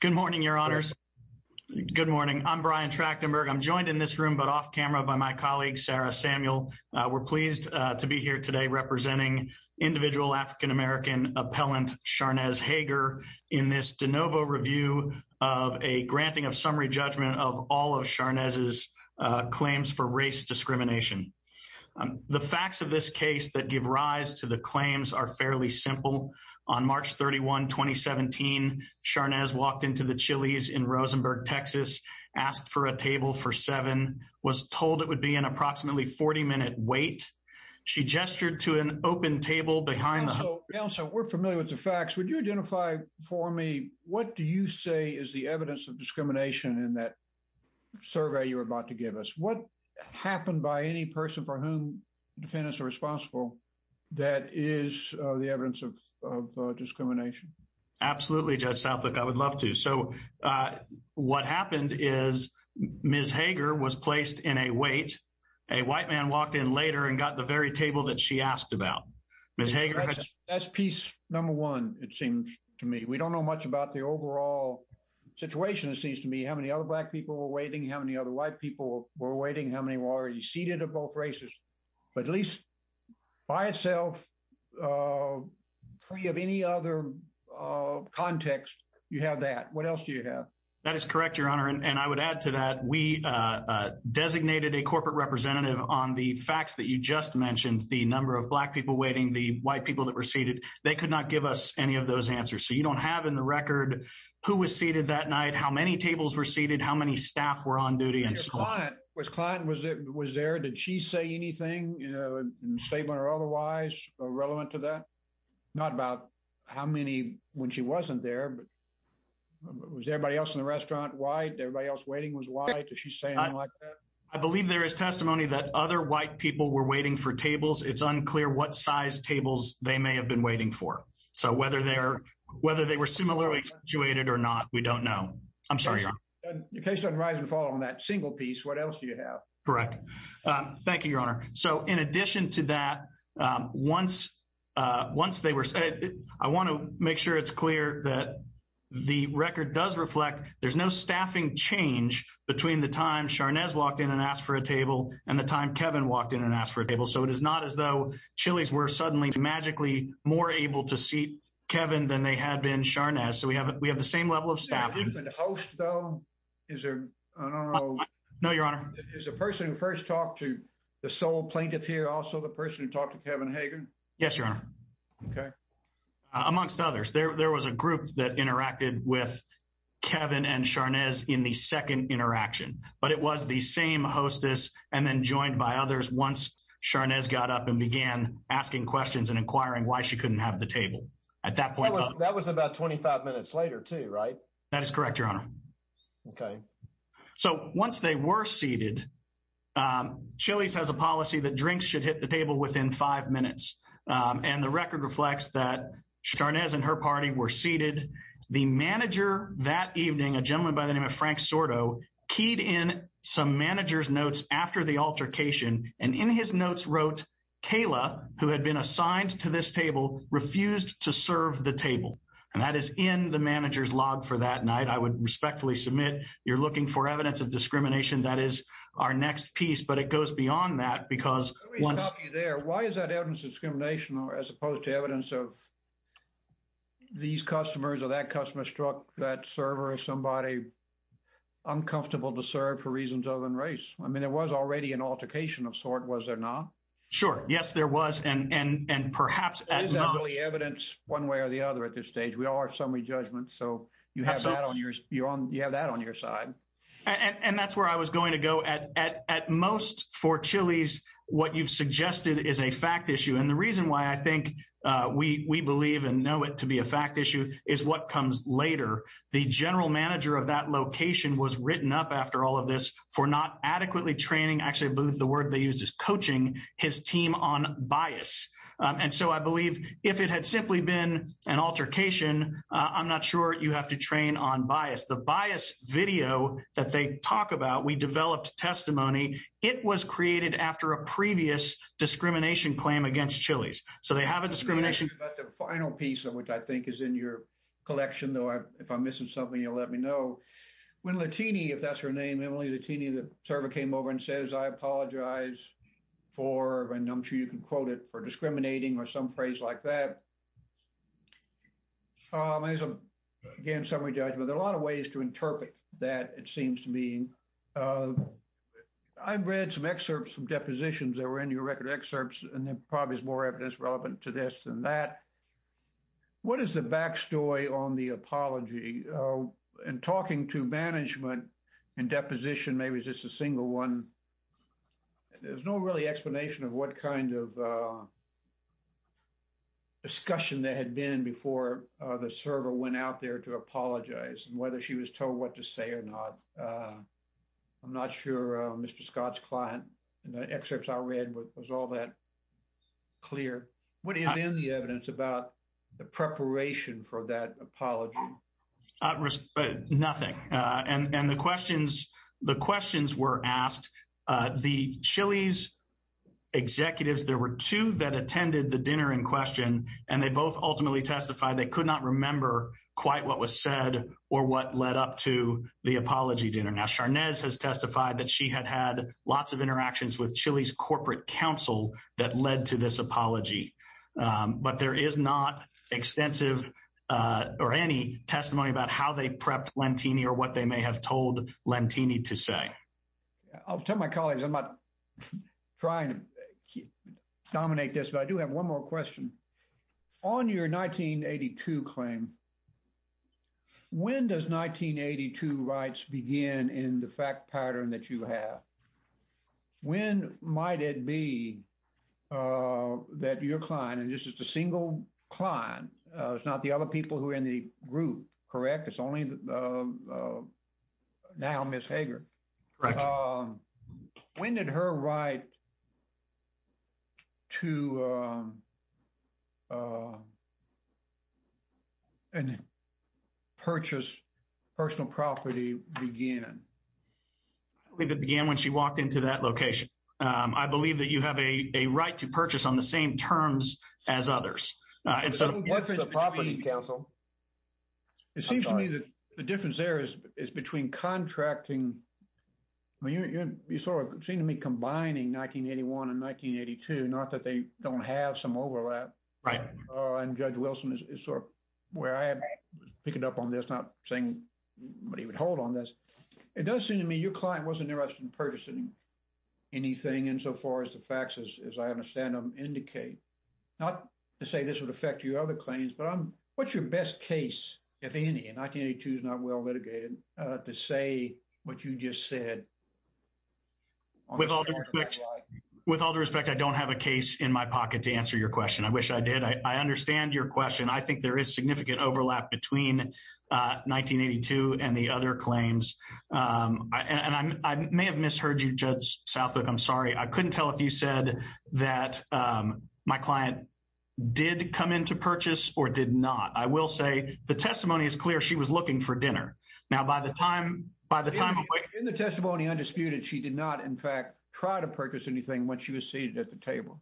Good morning, your honors. Good morning. I'm Brian Trachtenberg. I'm joined in this room, but off camera by my colleague, Sarah Samuel. We're pleased to be here today representing individual African American appellant Sharnesz Hager in this de novo review of a granting of summary judgment of all of Sharnesz's claims for race discrimination. The facts of this case that walked into the Chili's in Rosenberg, Texas, asked for a table for seven was told it would be an approximately 40 minute wait. She gestured to an open table behind the house. So we're familiar with the facts. Would you identify for me? What do you say is the evidence of discrimination in that survey you're about to give us? What happened by any person for whom defendants are responsible? That is the evidence of discrimination. Absolutely, Judge Southwick. I would love to. So what happened is Ms. Hager was placed in a wait. A white man walked in later and got the very table that she asked about. Ms. Hager. That's piece number one, it seems to me. We don't know much about the overall situation. It seems to me how many other black people were waiting, how many other white people were waiting, how many were already seated at both races, but at least by itself, free of any other context, you have that. What else do you have? That is correct, Your Honor. And I would add to that, we designated a corporate representative on the facts that you just mentioned, the number of black people waiting, the white people that were seated. They could not give us any of those answers. So you don't have in the record who was seated that night, how many tables were seated, how many staff were on duty. And your client, was client was there? Did she say anything in a statement or otherwise? Relevant to that? Not about how many when she wasn't there, but was everybody else in the restaurant? Why? Everybody else waiting was why? Did she say anything like that? I believe there is testimony that other white people were waiting for tables. It's unclear what size tables they may have been waiting for. So whether they were similarly situated or not, we don't know. I'm sorry, Your Honor. In case of rise and fall on that single piece, what else do you have? Correct. Thank you, Your Honor. So in addition to that, once they were seated, I want to make sure it's clear that the record does reflect, there's no staffing change between the time Sharnes walked in and asked for a table and the time Kevin walked in and asked for a table. So it is not as though Chili's were suddenly magically more able to seat Kevin than they had been Sharnes. So we have the same level of staff. Is there a host though? Is there, I don't know. No, Your Honor. Is the person who first talked to the sole plaintiff here also the person who talked to Kevin Hager? Yes, Your Honor. Okay. Amongst others, there was a group that interacted with Kevin and Sharnes in the second interaction, but it was the same hostess and then joined by others once Sharnes got up and began asking questions and inquiring why she couldn't have the table. At that point, that was about 25 minutes later too, right? That is correct, Your Honor. Okay. So once they were seated, Chili's has a policy that drinks should hit the table within five minutes. And the record reflects that Sharnes and her party were seated. The manager that evening, a gentleman by the name of Frank Sordo, keyed in some manager's notes after the altercation, and in his notes wrote, Kayla, who had been assigned to this table, refused to serve the evidence of discrimination. That is our next piece, but it goes beyond that because once... Let me stop you there. Why is that evidence of discrimination as opposed to evidence of these customers or that customer struck that server or somebody uncomfortable to serve for reasons other than race? I mean, there was already an altercation of sort, was there not? Sure. Yes, there was. And perhaps... Is that really evidence one way or the other at this stage? We all have summary judgments. So you have that on your side. And that's where I was going to go. At most for Chili's, what you've suggested is a fact issue. And the reason why I think we believe and know it to be a fact issue is what comes later. The general manager of that location was written up after all of this for not adequately training, actually I believe the word they used is coaching, his team on bias. And so I believe if it had simply been an altercation, I'm not sure you have to train on bias. The bias video that they talk about, we developed testimony. It was created after a previous discrimination claim against Chili's. So they have a discrimination... But the final piece of which I think is in your collection, though, if I'm missing something, you'll let me know. When Latini, if that's her name, Emily Latini, the server came over and says, I apologize for, and I'm sure you can quote it, for discriminating or some phrase like that. There's a, again, summary judgment. There are a lot of ways to interpret that, it seems to me. I've read some excerpts from depositions that were in your record excerpts, and there probably is more evidence relevant to this than that. What is the backstory on the apology and talking to management and deposition, maybe it's just a single one. There's no really explanation of what kind of a discussion there had been before the server went out there to apologize and whether she was told what to say or not. I'm not sure Mr. Scott's client in the excerpts I read was all that clear. What is in the evidence about the preparation for that apology? At risk, nothing. And the questions were asked. The Chili's executives, there were two that attended the dinner in question, and they both ultimately testified they could not remember quite what was said or what led up to the apology dinner. Now, Sharnese has testified that she had had lots of interactions with Chili's corporate counsel that led to this apology. But there is not extensive or any testimony about how they prepped Lentini or what they may have told Lentini to say. I'll tell my colleagues, I'm not trying to dominate this, but I do have one more question. On your 1982 claim, when does 1982 rights begin in the fact pattern that you have? When might it be that your client, and this is the single client, it's not the other people who are in the group, correct? It's only now Ms. Hager. When did her right to purchase personal property begin? I believe it began when she walked into that location. I believe that you have a right to purchase on the same terms as others. What's the property counsel? It seems to me that the difference there is between contracting, I mean, you sort of seem to me combining 1981 and 1982, not that they don't have some overlap. Right. And Judge Wilson is sort of where I pick it up on this, not saying what he would hold on this. It does seem to me your client wasn't interested in purchasing anything insofar as the facts, as I understand them, indicate. Not to say this would affect your other claims, but what's your best case, if any, and 1982 is not well litigated, to say what you just said? With all due respect, I don't have a case in my pocket to answer your question. I wish I did. I understand your question. I think there is significant overlap between 1982 and the other claims. And I may have misheard you, Judge Southwick. I'm sorry. I couldn't tell if you said that my client did come in to purchase or did not. I will say the testimony is clear. She was looking for dinner. Now, by the time... In the testimony undisputed, she did not, in fact, try to purchase anything once she was seated at the table.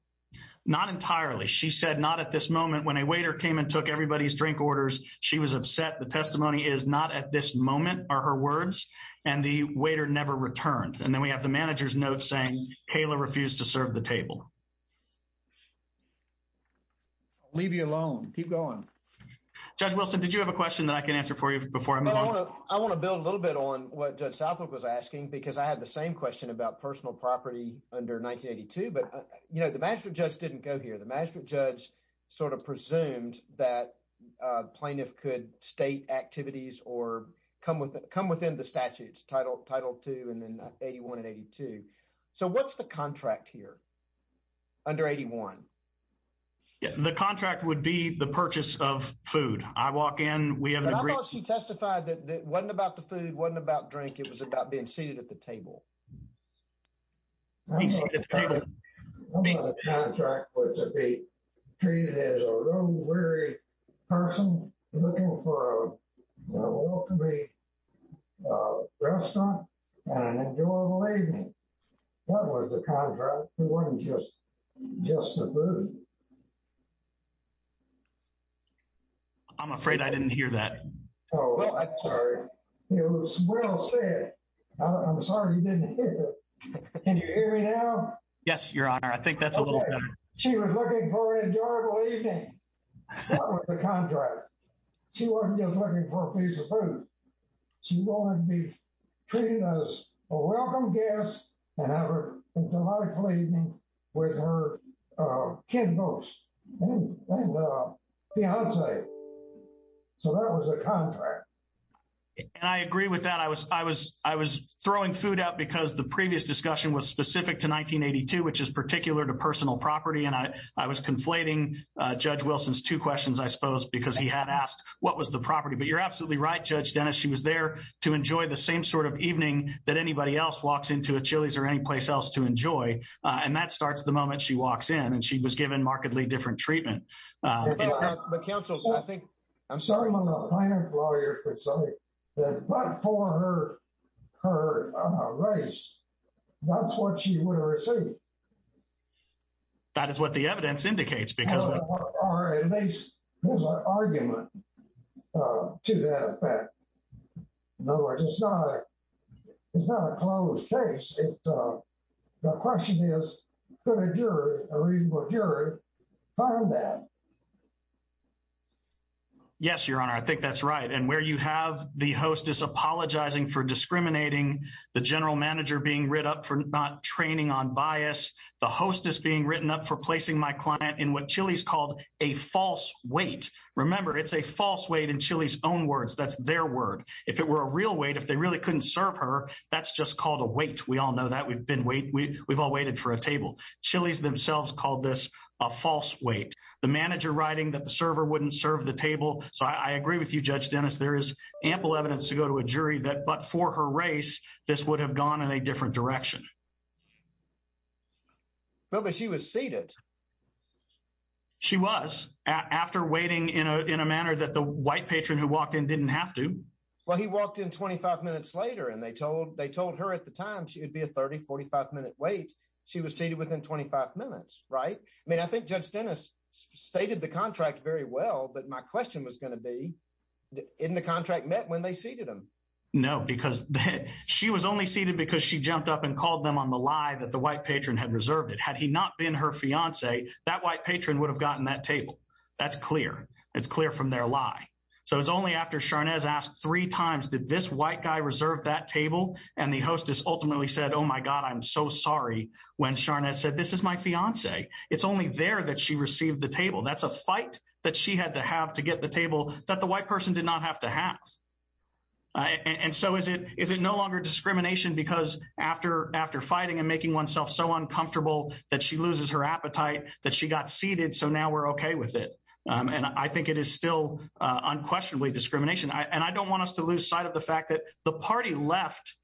Not entirely. She said not at this moment. When a waiter came and took everybody's drink orders, she was upset. The testimony is not at this moment, are her words, and the waiter never returned. And then we have the manager's note saying, Kayla refused to serve the table. Leave you alone. Keep going. Judge Wilson, did you have a question that I can answer for you before I move on? I want to build a little bit on what Judge Southwick was asking, because I had the same question about personal property under 1982. But, you know, the magistrate didn't go here. The magistrate judge sort of presumed that the plaintiff could state activities or come within the statutes, Title II and then 81 and 82. So what's the contract here under 81? The contract would be the purchase of food. I walk in, we have an agreement. But I thought she testified that it wasn't about the food, wasn't about drink. It was about being seated at the table. The contract was to be treated as a real weary person looking for a well-to-be restaurant and an enjoyable evening. That was the contract. It wasn't just the food. I'm afraid I didn't hear that. Oh, well, I'm sorry. It was well said. I'm sorry you didn't hear that. Can you hear me now? Yes, Your Honor. I think that's a little better. She was looking for an enjoyable evening. That was the contract. She wasn't just looking for a piece of food. She wanted to be treated as a welcome guest and have a delightful evening with her kin folks and fiance. So that was the contract. And I agree with that. I was throwing food out because the previous discussion was specific to 1982, which is particular to personal property. And I was conflating Judge Wilson's two questions, I suppose, because he had asked what was the property. But you're absolutely right, Judge Dennis. She was there to enjoy the same sort of evening that anybody else walks into a Chili's or any place else to enjoy. And that starts the moment she walks in. And she was given markedly different treatment. But counsel, I think I'm sorry, but for her, her race, that's what she would have received. That is what the evidence indicates because there's an argument to that effect. In other words, it's not a closed case. The question is, could a jury, a reasonable jury, find that? Yes, Your Honor, I think that's right. And where you have the hostess apologizing for discriminating, the general manager being written up for not training on bias, the hostess being written up for placing my client in what Chili's called a false weight. Remember, it's a false weight in Chili's own words. That's their word. If it were a real weight, if they really couldn't serve her, that's just called a weight. We all know that. We've all waited for a table. Chili's themselves called this a false weight. The manager writing that the server wouldn't serve the table. So I agree with you, Judge Dennis. There is ample evidence to go to a jury that but for her race, this would have gone in a different direction. Well, but she was seated. She was after waiting in a manner that the white patron who walked in didn't have to. Well, he walked in 25 minutes later and they told her at the time she would be a 30, 45 minute wait. She was seated within 25 minutes, right? I mean, I think Judge Dennis stated the contract very well. But my question was going to be, in the contract met when they seated him? No, because she was only seated because she jumped up and called them on the lie that the white patron had reserved it. Had he not been her fiance, that white patron would have gotten that table. That's clear. It's clear from their lie. So it's only after Sharnez asked three times, did this white guy reserve that table? And the hostess ultimately said, oh my God, I'm so sorry when Sharnez said, this is my fiance. It's only there that she received the table. That's a fight that she had to have to get the table that the white person did not have to have. And so is it no longer discrimination because after fighting and making oneself so uncomfortable that she loses her appetite that she got seated, so now we're okay with it. And I think it is still unquestionably discrimination. And I don't want us to lose sight of the fact that the party left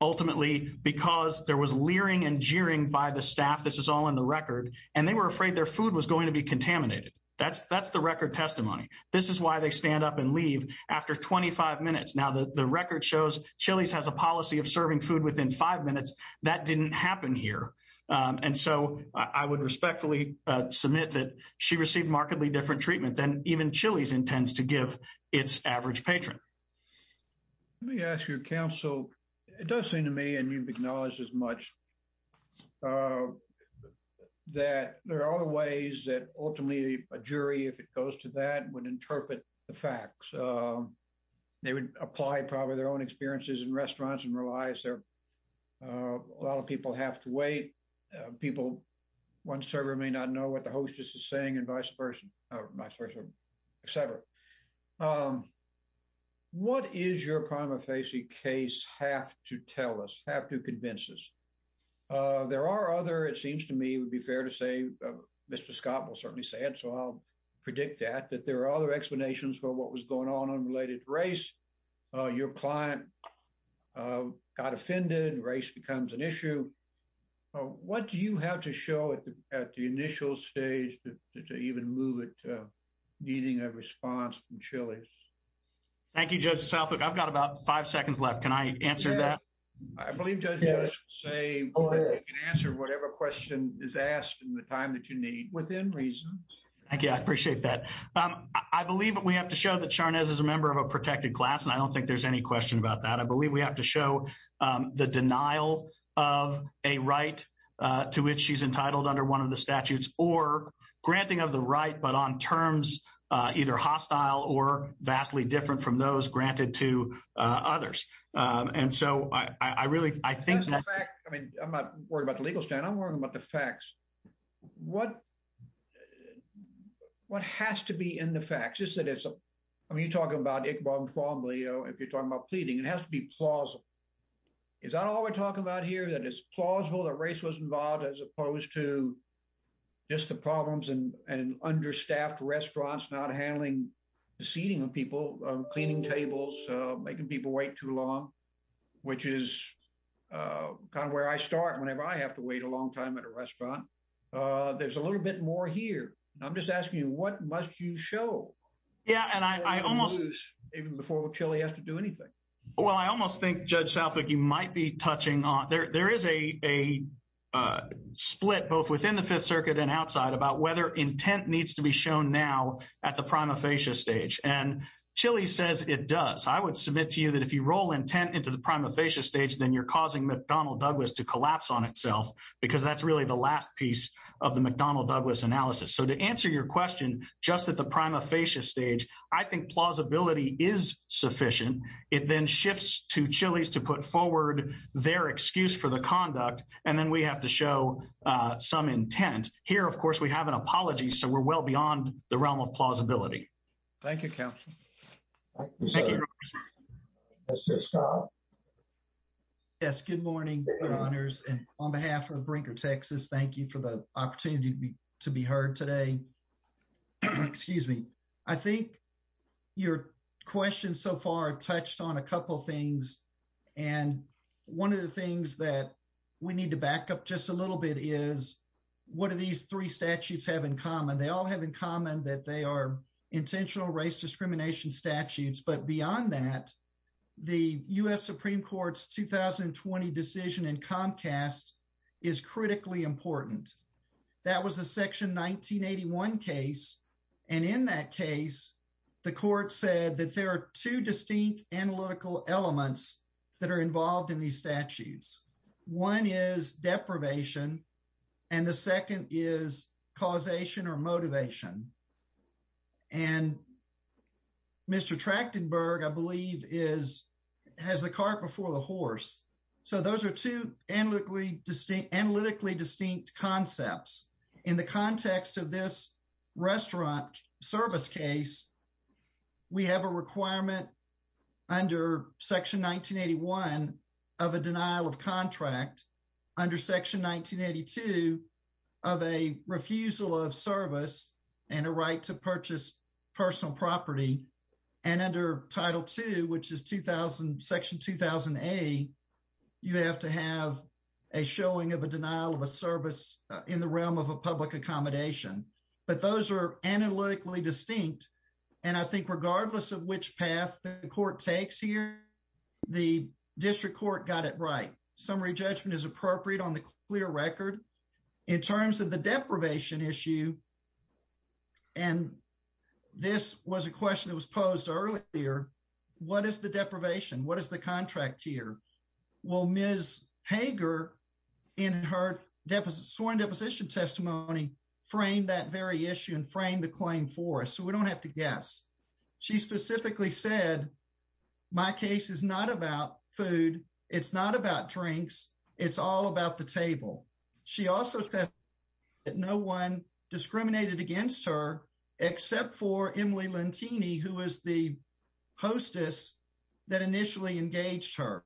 ultimately because there was leering and jeering by the staff. This is all in the record. And they were afraid their food was going to be contaminated. That's the record testimony. This is why they stand up and leave after 25 minutes. Now the record shows Chili's has a policy of serving food within five minutes. That didn't happen here. And so I would respectfully submit that she received markedly different treatment than even Chili's intends to give its average patron. Let me ask your counsel. It does seem to me and you've acknowledged as much as I have that there are other ways that ultimately a jury, if it goes to that, would interpret the facts. They would apply probably their own experiences in restaurants and realize a lot of people have to wait. One server may not know what the hostess is saying and vice versa, et cetera. What is your prima facie case have to tell us, have to convince us? There are other, it seems to me it would be fair to say, Mr. Scott will certainly say it. So I'll predict that, that there are other explanations for what was going on related to race. Your client got offended, race becomes an issue. What do you have to show at the initial stage to even move it to needing a response from Chili's? Thank you, Judge Southwick. I've got about five seconds left. Can I answer that? I believe Judge Soutwick can answer whatever question is asked in the time that you need within reason. Thank you, I appreciate that. I believe that we have to show that Sharnes is a member of a protected class and I don't think there's any question about that. I believe we have to show the denial of a right to which she's entitled under one of the statutes or granting of the right but on terms either hostile or vastly different from those granted to others. And so I really, I think... I'm not worried about the legal stand, I'm worried about the facts. What has to be in the facts? Just that it's, I mean, you're talking about Iqbal and Twombly, if you're talking about pleading, it has to be plausible. Is that all we're talking about here? That it's plausible that race was involved as opposed to just the problems and understaffed restaurants not handling the seating of people, cleaning tables, making people wait too long, which is kind of where I start whenever I have to wait a long time at a restaurant. There's a little bit more here. I'm just asking you, what must you show? Yeah, and I almost... Even before Chili has to do anything. Well, I almost think, Judge Southwick, you might be touching on... There is a split both within the Fifth Circuit and outside about whether intent needs to be shown now at the prima facie stage. And Chili says it does. I would submit to you that if you roll intent into the prima facie stage, then you're causing McDonnell Douglas to collapse on itself because that's really the last piece of the McDonnell Douglas analysis. So to answer your question, just at the prima facie stage, I think plausibility is sufficient. It then shifts to Chili's to put forward their excuse for the conduct, and then we have to show some intent. Here, of course, we have an apology, so we're well beyond the realm of plausibility. Thank you, counsel. Yes, good morning, your honors. And on behalf of Brinker, Texas, thank you for the opportunity to be heard today. Excuse me. I think your question so far touched on a couple things. And one of the things that we need to back up just a little bit is, what do these three statutes have in common? They all have in common that they are intentional race discrimination statutes. But beyond that, the US Supreme Court's 2020 decision in Comcast is critically important. That was a section 1981 case. And in that case, the court said that there are two distinct analytical elements that are involved in these statutes. One is deprivation, and the second is causation or motivation. And Mr. Trachtenberg, I believe, has the cart before the horse. So those are two analytically distinct concepts. In the context of this restaurant service case, we have a requirement under section 1981 of a denial of contract under section 1982 of a refusal of service and a right to purchase personal property. And under Title II, which is section 2008, you have to have a showing of a denial of a service in the realm of a public accommodation. But those are analytically distinct. And I think regardless of which path the court takes here, the district court got it right. Summary judgment is appropriate on the clear record. In terms of the deprivation issue, and this was a question that was posed earlier, what is the deprivation? What is the contract here? Well, Ms. Hager, in her sworn deposition testimony, framed that very issue and framed the claim for us. So we don't have to guess. She specifically said, my case is not about food. It's not about drinks. It's all about the table. She also said that no one discriminated against her except for Emily Lentini, who was the hostess that initially engaged her.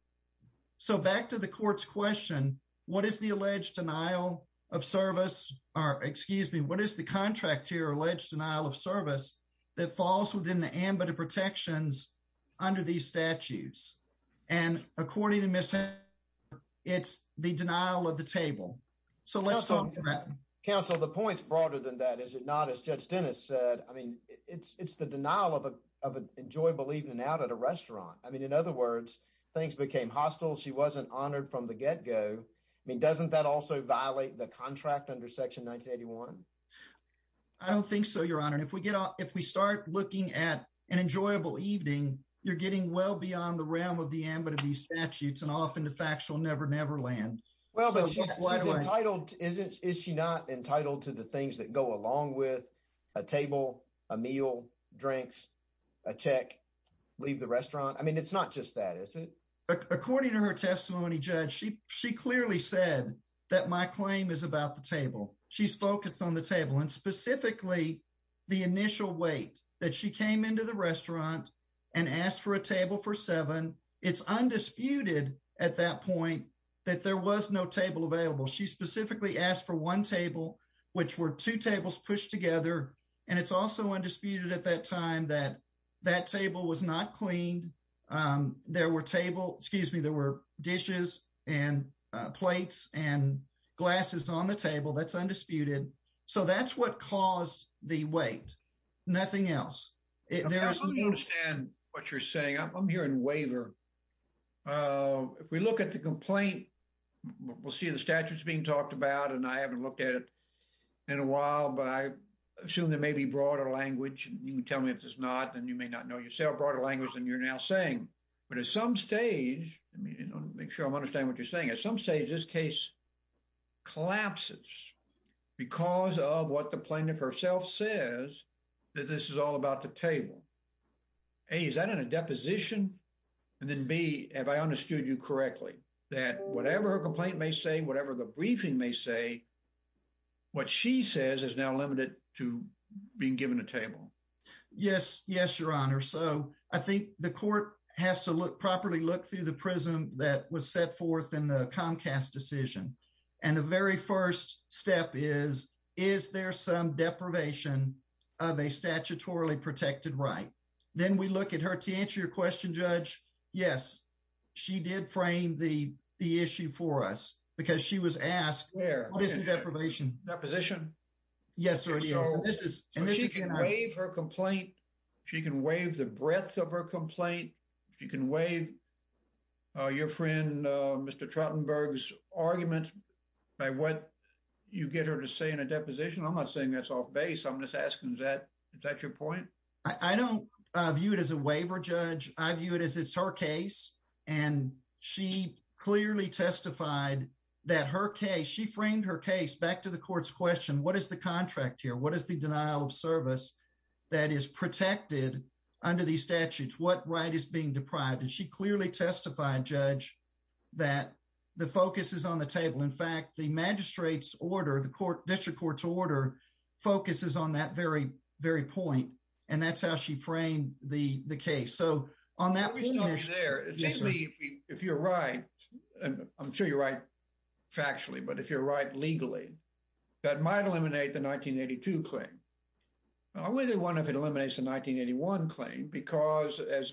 So back to the court's question, what is the alleged denial of service, or excuse me, what is the contract here, alleged denial of service, that falls within the ambit of protections under these statutes? And according to Ms. Hager, it's the denial of the table. So let's talk about that. Counsel, the point's broader than that, is it the denial of an enjoyable evening out at a restaurant? I mean, in other words, things became hostile. She wasn't honored from the get-go. I mean, doesn't that also violate the contract under Section 1981? I don't think so, Your Honor. If we start looking at an enjoyable evening, you're getting well beyond the realm of the ambit of these statutes, and often the facts will never, never land. Well, but she's entitled, is she not entitled to the things that go along with a table, a meal, drinks, a tech, leave the restaurant? I mean, it's not just that, is it? According to her testimony, Judge, she clearly said that my claim is about the table. She's focused on the table, and specifically the initial wait that she came into the restaurant and asked for a table for seven. It's undisputed at that point that there was no table available. She specifically asked for one table, which were two tables pushed together, and it's also undisputed at that time that that table was not cleaned. There were table, excuse me, there were dishes and plates and glasses on the table. That's undisputed. So that's what caused the wait. Nothing else. I don't understand what you're saying. I'm hearing waiver. If we look at the complaint, we'll see the statutes being talked about, and I haven't looked at it in a while, but I assume there may be broader language. You can tell me if there's not, then you may not know yourself, broader language than you're now saying. But at some stage, I mean, make sure I'm understanding what you're saying. At some stage, this case collapses because of what the plaintiff herself says that this is all about the table. A, is that in a deposition? And then B, have I understood you correctly, that whatever her complaint may say, whatever the briefing may say, what she says is now limited to being given a table? Yes. Yes, Your Honor. So I think the court has to properly look through the prism that was set forth in the Comcast decision. And the very first step is, is there some deprivation of a statutorily protected right? Then we look at her to answer your question, Judge. Yes, she did frame the issue for us because she was asked, what is the deprivation? Deposition? Yes, there it is. So she can waive her complaint. She can waive the breadth of her complaint. She can waive your friend, Mr. Trottenberg's argument by what you get her to say in a deposition. I'm not saying that's off base. I'm just asking, is that your point? I don't view it as a waiver, Judge. I view it as it's her case. And she clearly testified that her case, she framed her case back to the court's question, what is the contract here? What is the denial of service that is protected under these statutes? What right is being deprived? And she clearly testified, Judge, that the focus is on the table. In fact, the magistrate's order, the court district court's order focuses on that very, very point. And that's how she framed the case. So on that. If you're right, and I'm sure you're right, factually, but if you're right legally, that might eliminate the 1982 claim. I really wonder if it eliminates the 1981 claim because as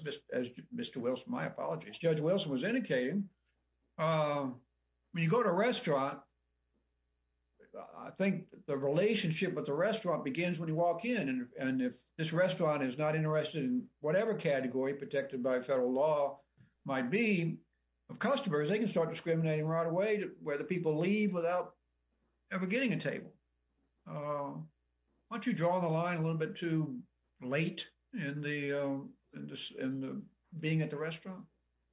Mr. Wilson, my apologies, Judge Wilson was indicating, when you go to a restaurant, I think the relationship with the restaurant begins when you walk in. And if this restaurant is not interested in whatever category protected by federal law might be of customers, they can start discriminating right away where the people leave without ever getting a table. Once you draw the line a little bit too late in the being at the restaurant.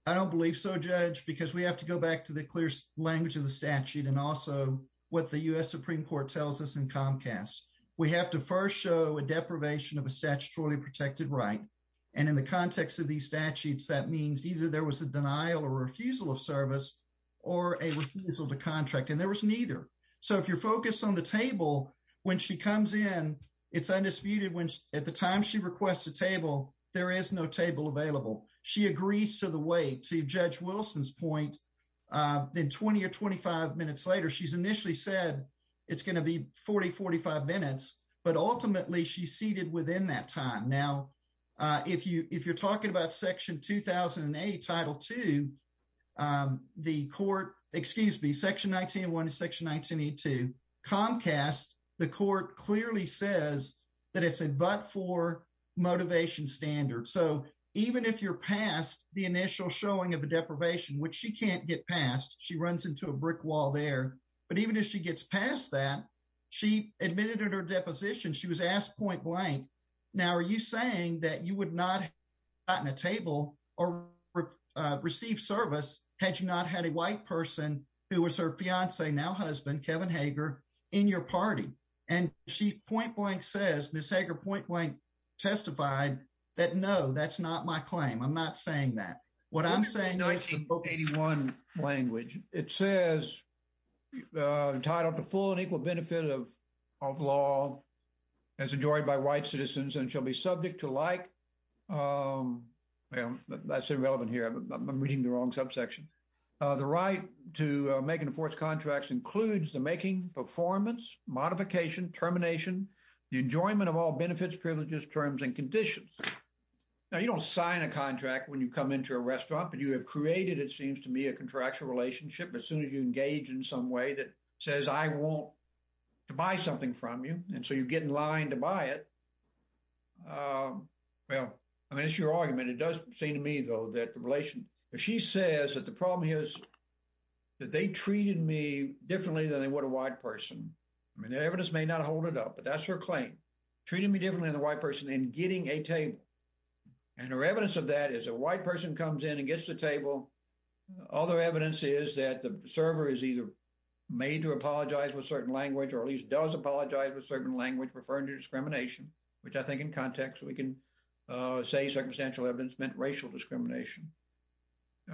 I don't believe so, Judge, because we have to go back to the clear language of the statute and also what the US Supreme Court tells us in Comcast, we have to first show a deprivation of a statutorily protected right. And in the context of these statutes, that means either there was a denial or refusal of service, or a refusal to contract and there was neither. So if you're focused on the table, when she comes in, it's undisputed when at the time she requests a table, there is no table available. She agrees to the way to Judge Wilson's point, then 20 or 25 minutes later, she's initially said, it's going to be 40-45 minutes, but ultimately, she's seated within that time. Now, if you're talking about Section 2008, Title 2, the court, excuse me, Section 19-1 and Section 19-2 Comcast, the court clearly says that it's a but for motivation standard. So even if you're past the initial showing of a deprivation, which she can't get past, she runs into a brick wall there. But even if she gets past that, she admitted her deposition, she was asked point blank. Now, are you saying that you would not gotten a table or receive service had you not had a white person who was her fiance, now husband, Kevin Hager, in your party? And she point blank says, Ms. Hager point blank, testified that no, that's not my claim. I'm not saying that. What I'm saying is the book 81 language, it says, entitled to full and equal benefit of law as enjoyed by white citizens and shall be subject to like, that's irrelevant here, I'm reading the wrong subsection. The right to make and enforce contracts includes the making, performance, modification, termination, the enjoyment of benefits, privileges, terms and conditions. Now, you don't sign a contract when you come into a restaurant, but you have created, it seems to me a contractual relationship, as soon as you engage in some way that says, I want to buy something from you. And so you get in line to buy it. Well, I mean, it's your argument. It does seem to me, though, that the relation, if she says that the problem here is that they treated me differently than they would a white person. I mean, the evidence may not hold it up, but that's her claim, treating me differently than the white person in getting a table. And her evidence of that is a white person comes in and gets the table. Other evidence is that the server is either made to apologize with certain language, or at least does apologize with certain language referring to discrimination, which I think in context, we can say circumstantial evidence meant racial discrimination.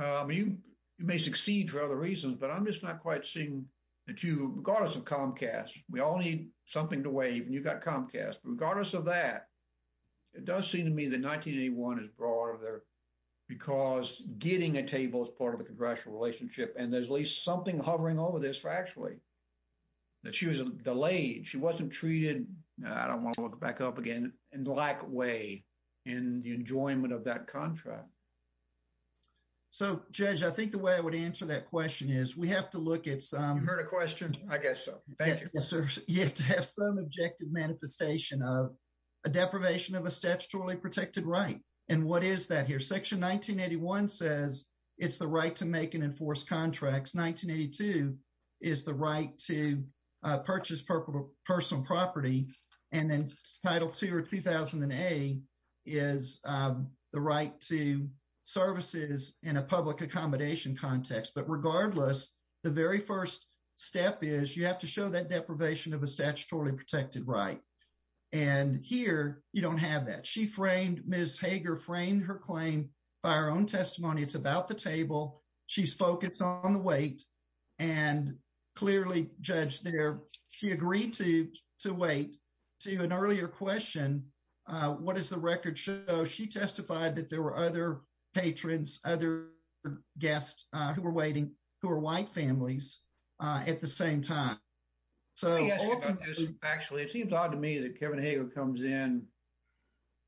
You may succeed for other reasons, but I'm just not quite seeing that you, regardless of Comcast, we all need something to wave. And you've got Comcast, but regardless of that, it does seem to me that 1981 is broader there because getting a table is part of the congressional relationship. And there's at least something hovering over this factually, that she was delayed. She wasn't treated, I don't want to look back up again, in the like way and the enjoyment of that contract. So Judge, I think the way I would answer that question is we have to look at some... You heard a question? I guess so. Thank you. You have to have some objective manifestation of a deprivation of a statutorily protected right. And what is that here? Section 1981 says it's the right to make and enforce contracts. 1982 is the right to purchase personal property. And then title two or 2008 is the right to services in a public accommodation context. But regardless, the very first step is you have to show that deprivation of a statutorily protected right. And here, you don't have that. She framed, Ms. Hager framed her claim by her own testimony. It's about the table. She's focused on the weight. And clearly, Judge, she agreed to wait. To an earlier question, what does the record show? She testified that there were other patrons, other guests who were waiting, who are white families at the same time. Actually, it seems odd to me that Kevin Hager comes in,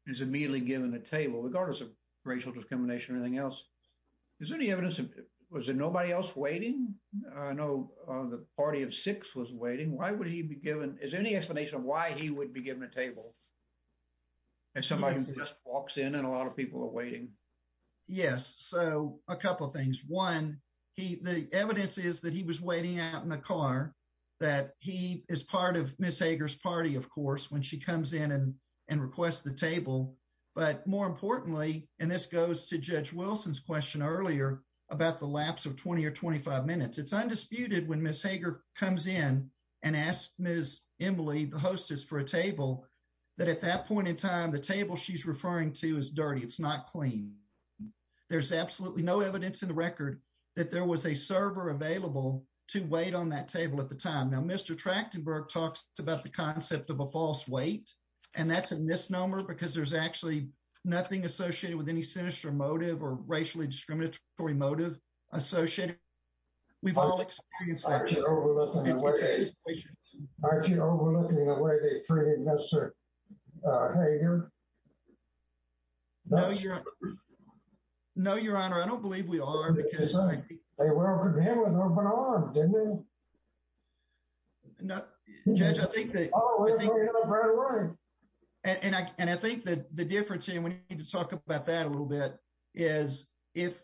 is immediately given a table regardless of racial discrimination or anything else. Is there any evidence? Was there nobody else waiting? I know the party of six was waiting. Why would he be given? Is there any explanation of why he would be given a table? And somebody just walks in and a lot of people are waiting. Yes. So a couple of things. One, the evidence is that he was waiting out in the car, that he is part of Ms. Hager's party, of course, when she comes in and requests the table. But more importantly, and this goes to Judge Wilson's question earlier about the lapse of 20 or 25 minutes. It's undisputed when Ms. Hager comes in and asks Ms. Emily, the hostess, for a table, that at that point in time, the table she's referring to is dirty. It's not clean. There's absolutely no evidence in the record that there was a server available to wait on that table at the time. Now, Mr. Trachtenberg talks about the concept of a false weight, and that's a misnomer because there's actually nothing associated with any sinister motive or racially discriminatory motive associated. We've all experienced that. Aren't you overlooking the way they treated Ms. Hager? No, Your Honor, I don't believe we are. They welcomed him with open arms, didn't they? No, Judge, I think that... Oh, we're moving on right away. And I think that the difference, and we need to talk about that a little bit, is if...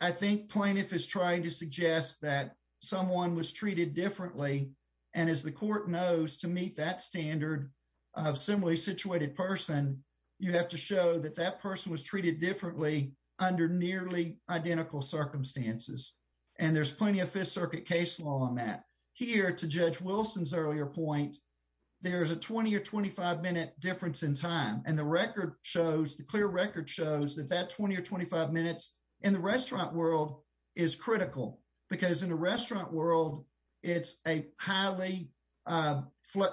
I think plaintiff is trying to suggest that someone was treated differently, and as the court knows, to meet that standard of similarly situated person, you have to show that that person was treated differently under nearly identical circumstances. And there's plenty of Fifth Circuit case law on that. Here, to Judge Wilson's earlier point, there's a 20 or 25 minutes. In the restaurant world, it's critical because in the restaurant world, it's a highly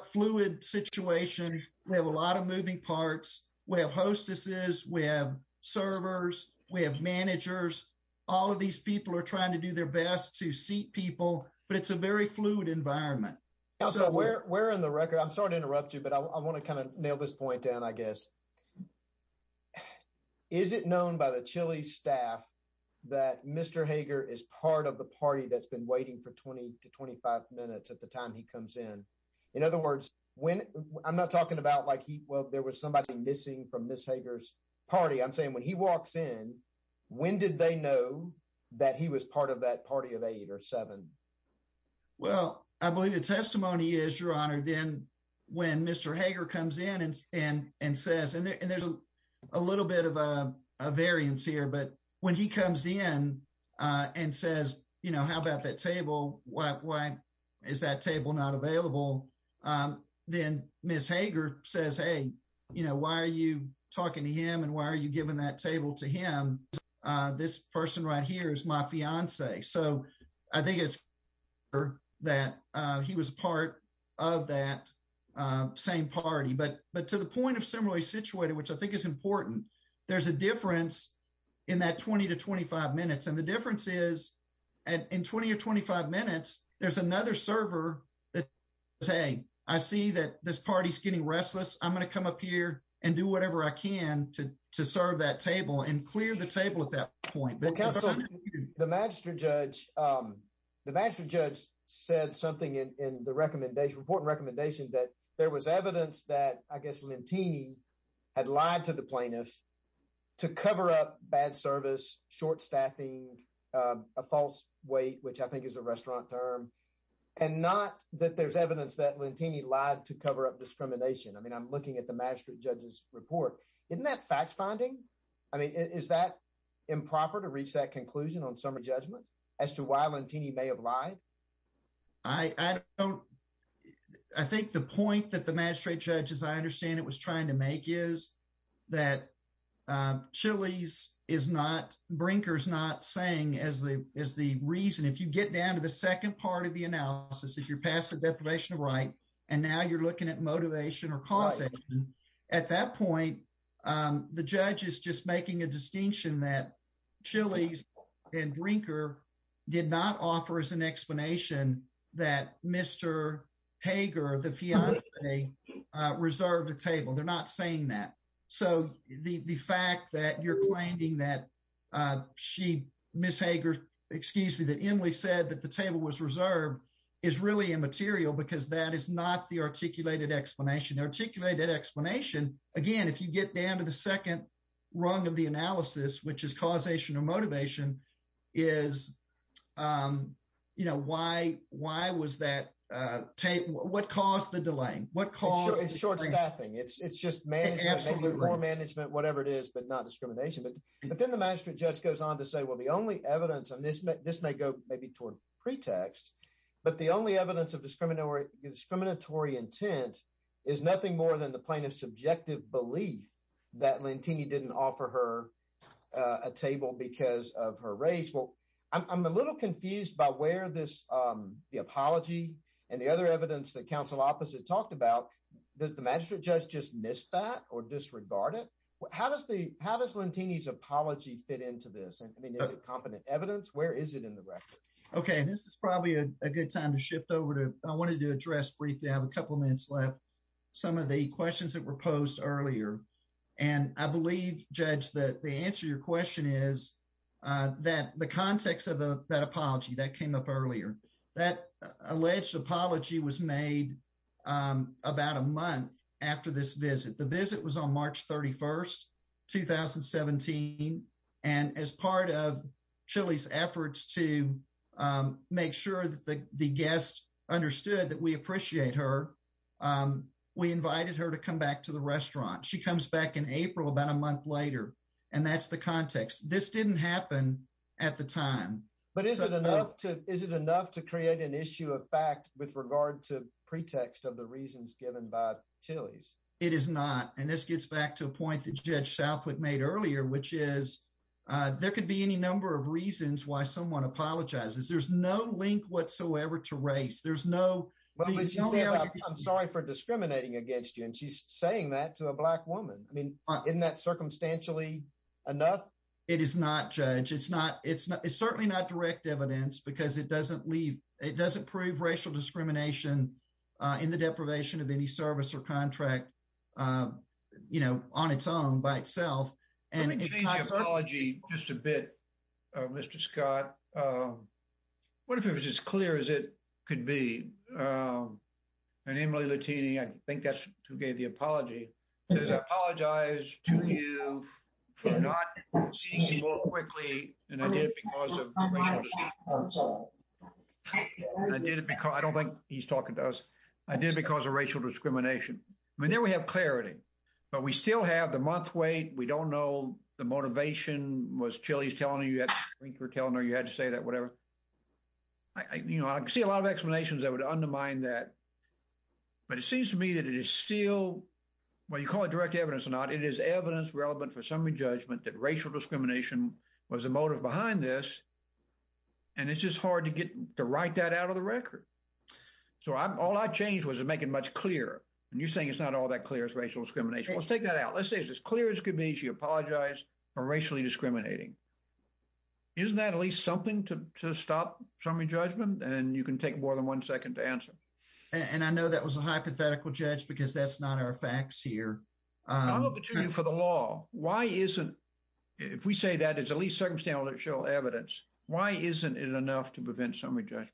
fluid situation. We have a lot of moving parts. We have hostesses. We have servers. We have managers. All of these people are trying to do their best to seat people, but it's a very fluid environment. We're in the record. I'm sorry to interrupt you, but I want to kind of nail this point down, I guess. Is it known by the Chili staff that Mr. Hager is part of the party that's been waiting for 20 to 25 minutes at the time he comes in? In other words, when... I'm not talking about like he... Well, there was somebody missing from Ms. Hager's party. I'm saying when he walks in, when did they know that he was part of that party of eight or seven? Well, I believe the testimony is, Your Honor, then when Mr. Hager comes in and says... And there's a little bit of a variance here, but when he comes in and says, how about that table? Why is that table not available? Then Ms. Hager says, hey, why are you talking to him and why are you telling him that he was part of that same party? But to the point of similarly situated, which I think is important, there's a difference in that 20 to 25 minutes. And the difference is at 20 or 25 minutes, there's another server that says, hey, I see that this party is getting restless. I'm going to come up here and do whatever I can to serve that table and clear the table at that point. The magistrate judge said something in the report and recommendation that there was evidence that, I guess, Lentini had lied to the plaintiff to cover up bad service, short staffing, a false weight, which I think is a restaurant term, and not that there's evidence that Lentini lied to cover up discrimination. I mean, I'm looking at the magistrate judge's report. Isn't that fact finding? I mean, is that improper to reach that conclusion on summary judgment as to why Lentini may have lied? I think the point that the magistrate judge, as I understand it, was trying to make is that Brinker's not saying as the reason. If you get down to the second part of the analysis, if you're past the deprivation of right, and now you're past the deprivation of right, and now you're past the deprivation of right. At that point, the judge is just making a distinction that Chili's and Brinker did not offer as an explanation that Mr. Hager, the fiance, reserved the table. They're not saying that. So, the fact that you're is really immaterial because that is not the articulated explanation. The articulated explanation, again, if you get down to the second rung of the analysis, which is causation or motivation, is, you know, why was that taken? What caused the delay? It's short staffing. It's just management, whatever it is, but not discrimination. But then the magistrate judge goes on to say, well, the only evidence, and this may go maybe toward pretext, but the only evidence of discriminatory intent is nothing more than the plaintiff's subjective belief that Lentini didn't offer her a table because of her race. Well, I'm a little confused by where the apology and the other evidence that counsel opposite talked about, does the magistrate judge just miss that or disregard it? How does Lentini's apology fit into this? I mean, is it competent evidence? Where is it in the record? Okay, this is probably a good time to shift over to, I wanted to address briefly, I have a couple minutes left, some of the questions that were posed earlier. And I believe, Judge, that the answer to your question is that the context of that apology that came up earlier, that alleged apology was made about a month after this visit. The visit was on March 31st, 2017. And as part of Chili's efforts to make sure that the guests understood that we appreciate her, we invited her to come back to the restaurant. She comes back in April, about a month later. And that's the context. This didn't happen at the time. But is it enough to, is it enough to create an issue of fact with regard to It is not. And this gets back to a point that Judge Southwick made earlier, which is, there could be any number of reasons why someone apologizes. There's no link whatsoever to race. There's no, I'm sorry for discriminating against you. And she's saying that to a black woman. I mean, isn't that circumstantially enough? It is not judge. It's not it's not it's certainly not direct evidence because it doesn't leave. It doesn't prove racial discrimination in the deprivation of any service or contract, you know, on its own by itself. Let me change the apology just a bit, Mr. Scott. What if it was as clear as it could be? And Emily Lettini, I think that's who gave the apology, says, I apologize to you for not seizing more quickly than I did because of racial discrimination. I did it because I don't think he's talking to us. I did because of racial discrimination. I mean, there we have clarity. But we still have the month wait, we don't know the motivation was Chili's telling you that you're telling her you had to say that whatever. I, you know, I see a lot of explanations that would undermine that. But it seems to me that it still well, you call it direct evidence or not. It is evidence relevant for summary judgment that racial discrimination was the motive behind this. And it's just hard to get to write that out of the record. So I'm all I changed was to make it much clearer. And you're saying it's not all that clear as racial discrimination. Let's take that out. Let's say it's as clear as could be. She apologized for racially discriminating. Isn't that at least something to stop from your judgment? And you can take more than one second to answer. And I know that was a hypothetical judge because that's not our facts here. For the law, why isn't if we say that it's at least circumstantial evidence? Why isn't it enough to prevent summary judgment?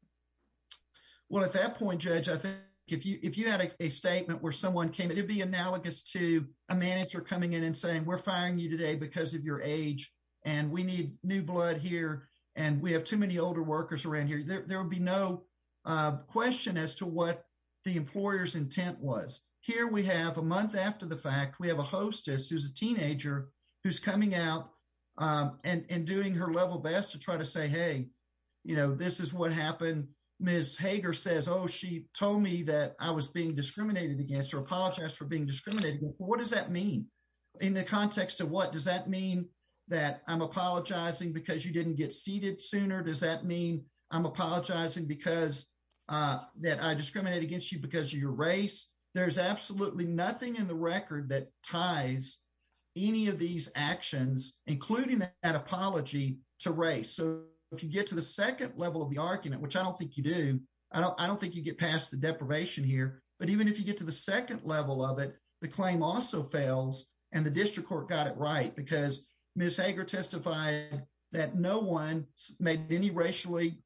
Well, at that point, Judge, I think if you if you had a statement where someone came in, it'd be analogous to a manager coming in and saying we're firing you today because of your age. And we need new blood here. And we have too many older workers around here, there will be no question as to what the employer's intent was. Here we have a month after the fact we have a hostess who's a teenager who's coming out and doing her level best to try to say, hey, you know, this is what happened. Ms. Hager says, oh, she told me that I was being discriminated against or apologized for being discriminated. What does that mean? In the context of what does that mean? That I'm apologizing because you didn't get seated sooner? Does that mean I'm apologizing because that I discriminated against you because of your race? There's absolutely nothing in the record that ties any of these actions, including that apology to race. So if you get to the second level of the argument, which I don't think you do, I don't think you get past the deprivation here. But even if you get to the second level of it, the claim also fails. And the district court got it right. Because Ms. Hager testified that no one made any racially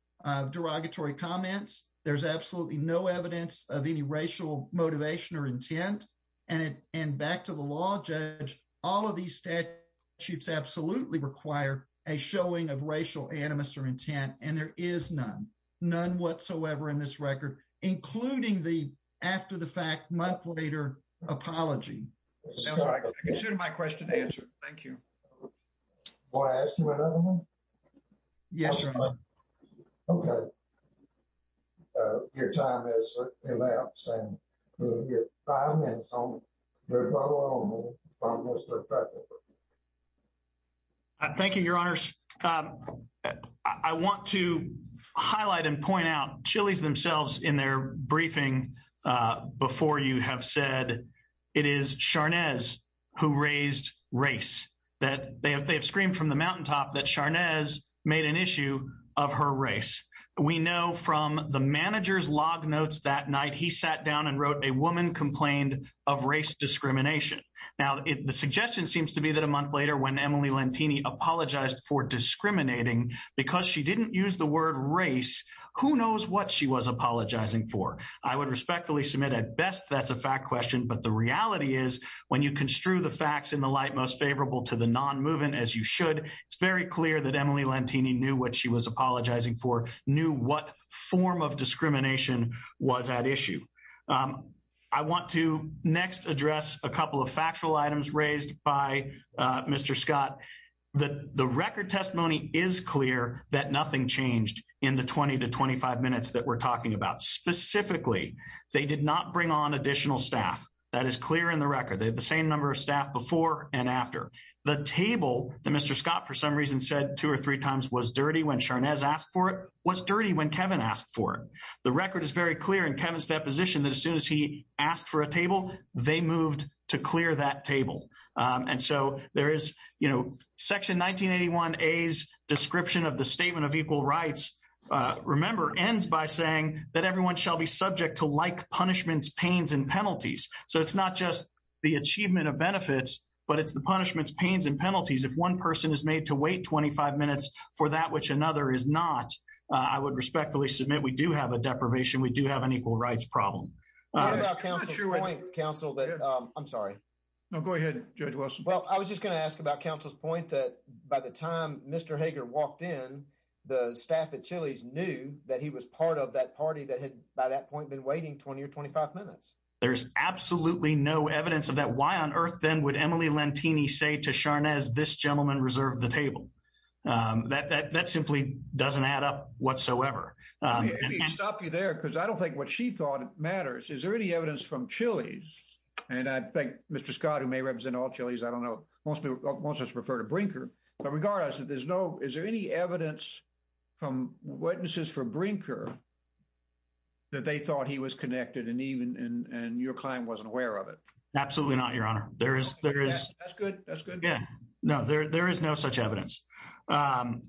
derogatory comments. There's absolutely no evidence of any racial motivation or intent. And it and back to the law judge, all of these statutes absolutely require a showing of racial animus or intent. And there is none, none whatsoever in this record, including the after the fact month later apology. My question answer. Thank you. Well, I asked you another one. Yes. Okay. Your time is elapsed. Thank you, Your Honors. I want to highlight and point out Chili's themselves in their briefing. Before you have said, it is Charnes, who raised race that they have they have screamed from the mountaintop that Charnes made an issue of her race. We know from the manager's log notes that night, he sat down and wrote a woman complained of race discrimination. Now, the suggestion seems to be that a month later, when Emily Lantini apologized for discriminating, because she didn't use the word race, who knows what she was apologizing for? I would respectfully submit at best, that's a fact question. But the reality is, when you construe the facts in the light most favorable to the non moving as you should, it's very clear that Emily Lantini knew what she was apologizing for knew what form of discrimination was at issue. I want to next address a couple of 20 to 25 minutes that we're talking about. Specifically, they did not bring on additional staff. That is clear in the record. They have the same number of staff before and after. The table that Mr. Scott for some reason said two or three times was dirty when Charnes asked for it was dirty when Kevin asked for it. The record is very clear in Kevin's deposition that as soon as he asked for a table, they moved to clear that table. And so there is, you know, Section 1981 A's description of the statement of equal rights, remember ends by saying that everyone shall be subject to like punishments, pains and penalties. So it's not just the achievement of benefits, but it's the punishments, pains and penalties. If one person is made to wait 25 minutes for that, which another is not, I would respectfully submit we do have a deprivation, we do have an equal rights problem. I'm sorry. No, go ahead, Judge Wilson. Well, I was just going to ask about counsel's point that by the time Mr. Hager walked in, the staff at Chili's knew that he was part of that party that had by that point been waiting 20 or 25 minutes. There's absolutely no evidence of that. Why on earth then would Emily Lantini say to Charnes, this gentleman reserved the table? That simply doesn't add up whatsoever. Stop you there because I don't think what she thought matters. Is there any evidence from Chili's? And I think Mr. Scott, who may represent all Chili's, I don't know, most of us prefer to Brinker. But regardless, is there any evidence from witnesses for Brinker that they thought he was connected and your client wasn't aware of it? Absolutely not, Your Honor. That's good. That's good. Yeah. No, there is no such evidence. And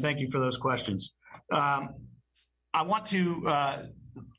thank you for those questions. I want to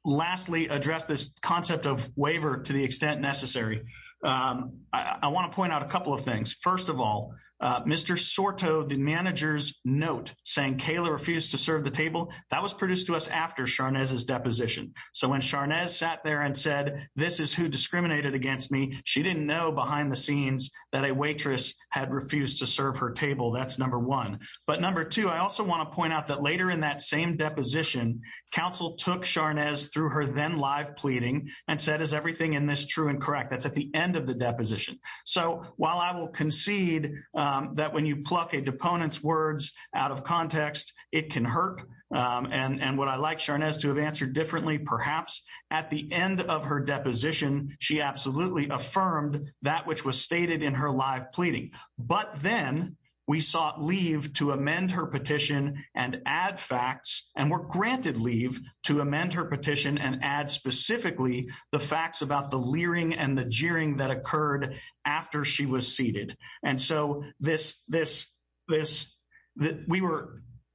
lastly address this concept of waiver to the extent necessary. I want to point out a couple of things. First of all, Mr. Sorto, the manager's note saying Kayla refused to serve the table, that was produced to us after Charnes' deposition. So when Charnes sat there and said, this is who discriminated against me, she didn't know behind the scenes that a waitress had refused to serve her table. That's number one. But number two, I also want to point out that later in that same deposition, counsel took Charnes through her then live pleading and said, is everything in this true and correct? That's at the end of the deposition. So while I will concede that when you pluck a deponent's words out of context, it can hurt. And what I like Charnes to have answered differently, perhaps at the end of her deposition, she absolutely affirmed that which was stated in her live pleading. But then we sought leave to amend her petition and add facts and were granted leave to amend her petition and add specifically the facts about the leering and the jeering that occurred after she was seated. And so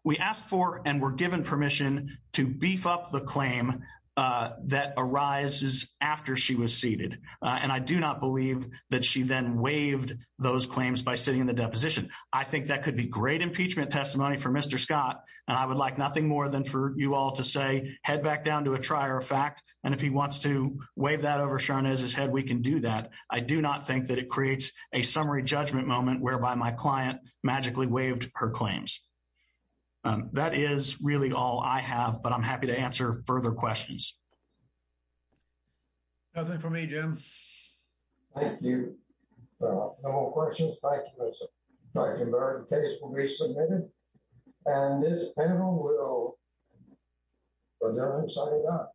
we asked for and were given permission to beef up the claim that arises after she was seated. And I do not believe that she then waived those claims by sitting in the deposition. I think that could be great impeachment testimony for Mr. Scott. And I would like nothing more than for you all to say, head back down to a trier of fact. And if he wants to wave that over Charnes' head, we can do that. I do not think that it creates a summary judgment moment whereby my client magically waived her claims. That is really all I have, but I'm happy to answer further questions. Nothing for me, Jim. Thank you. No more questions. Thank you, Mr. Brankenberg. The case will be submitted. And this panel will adjourn and sign it up.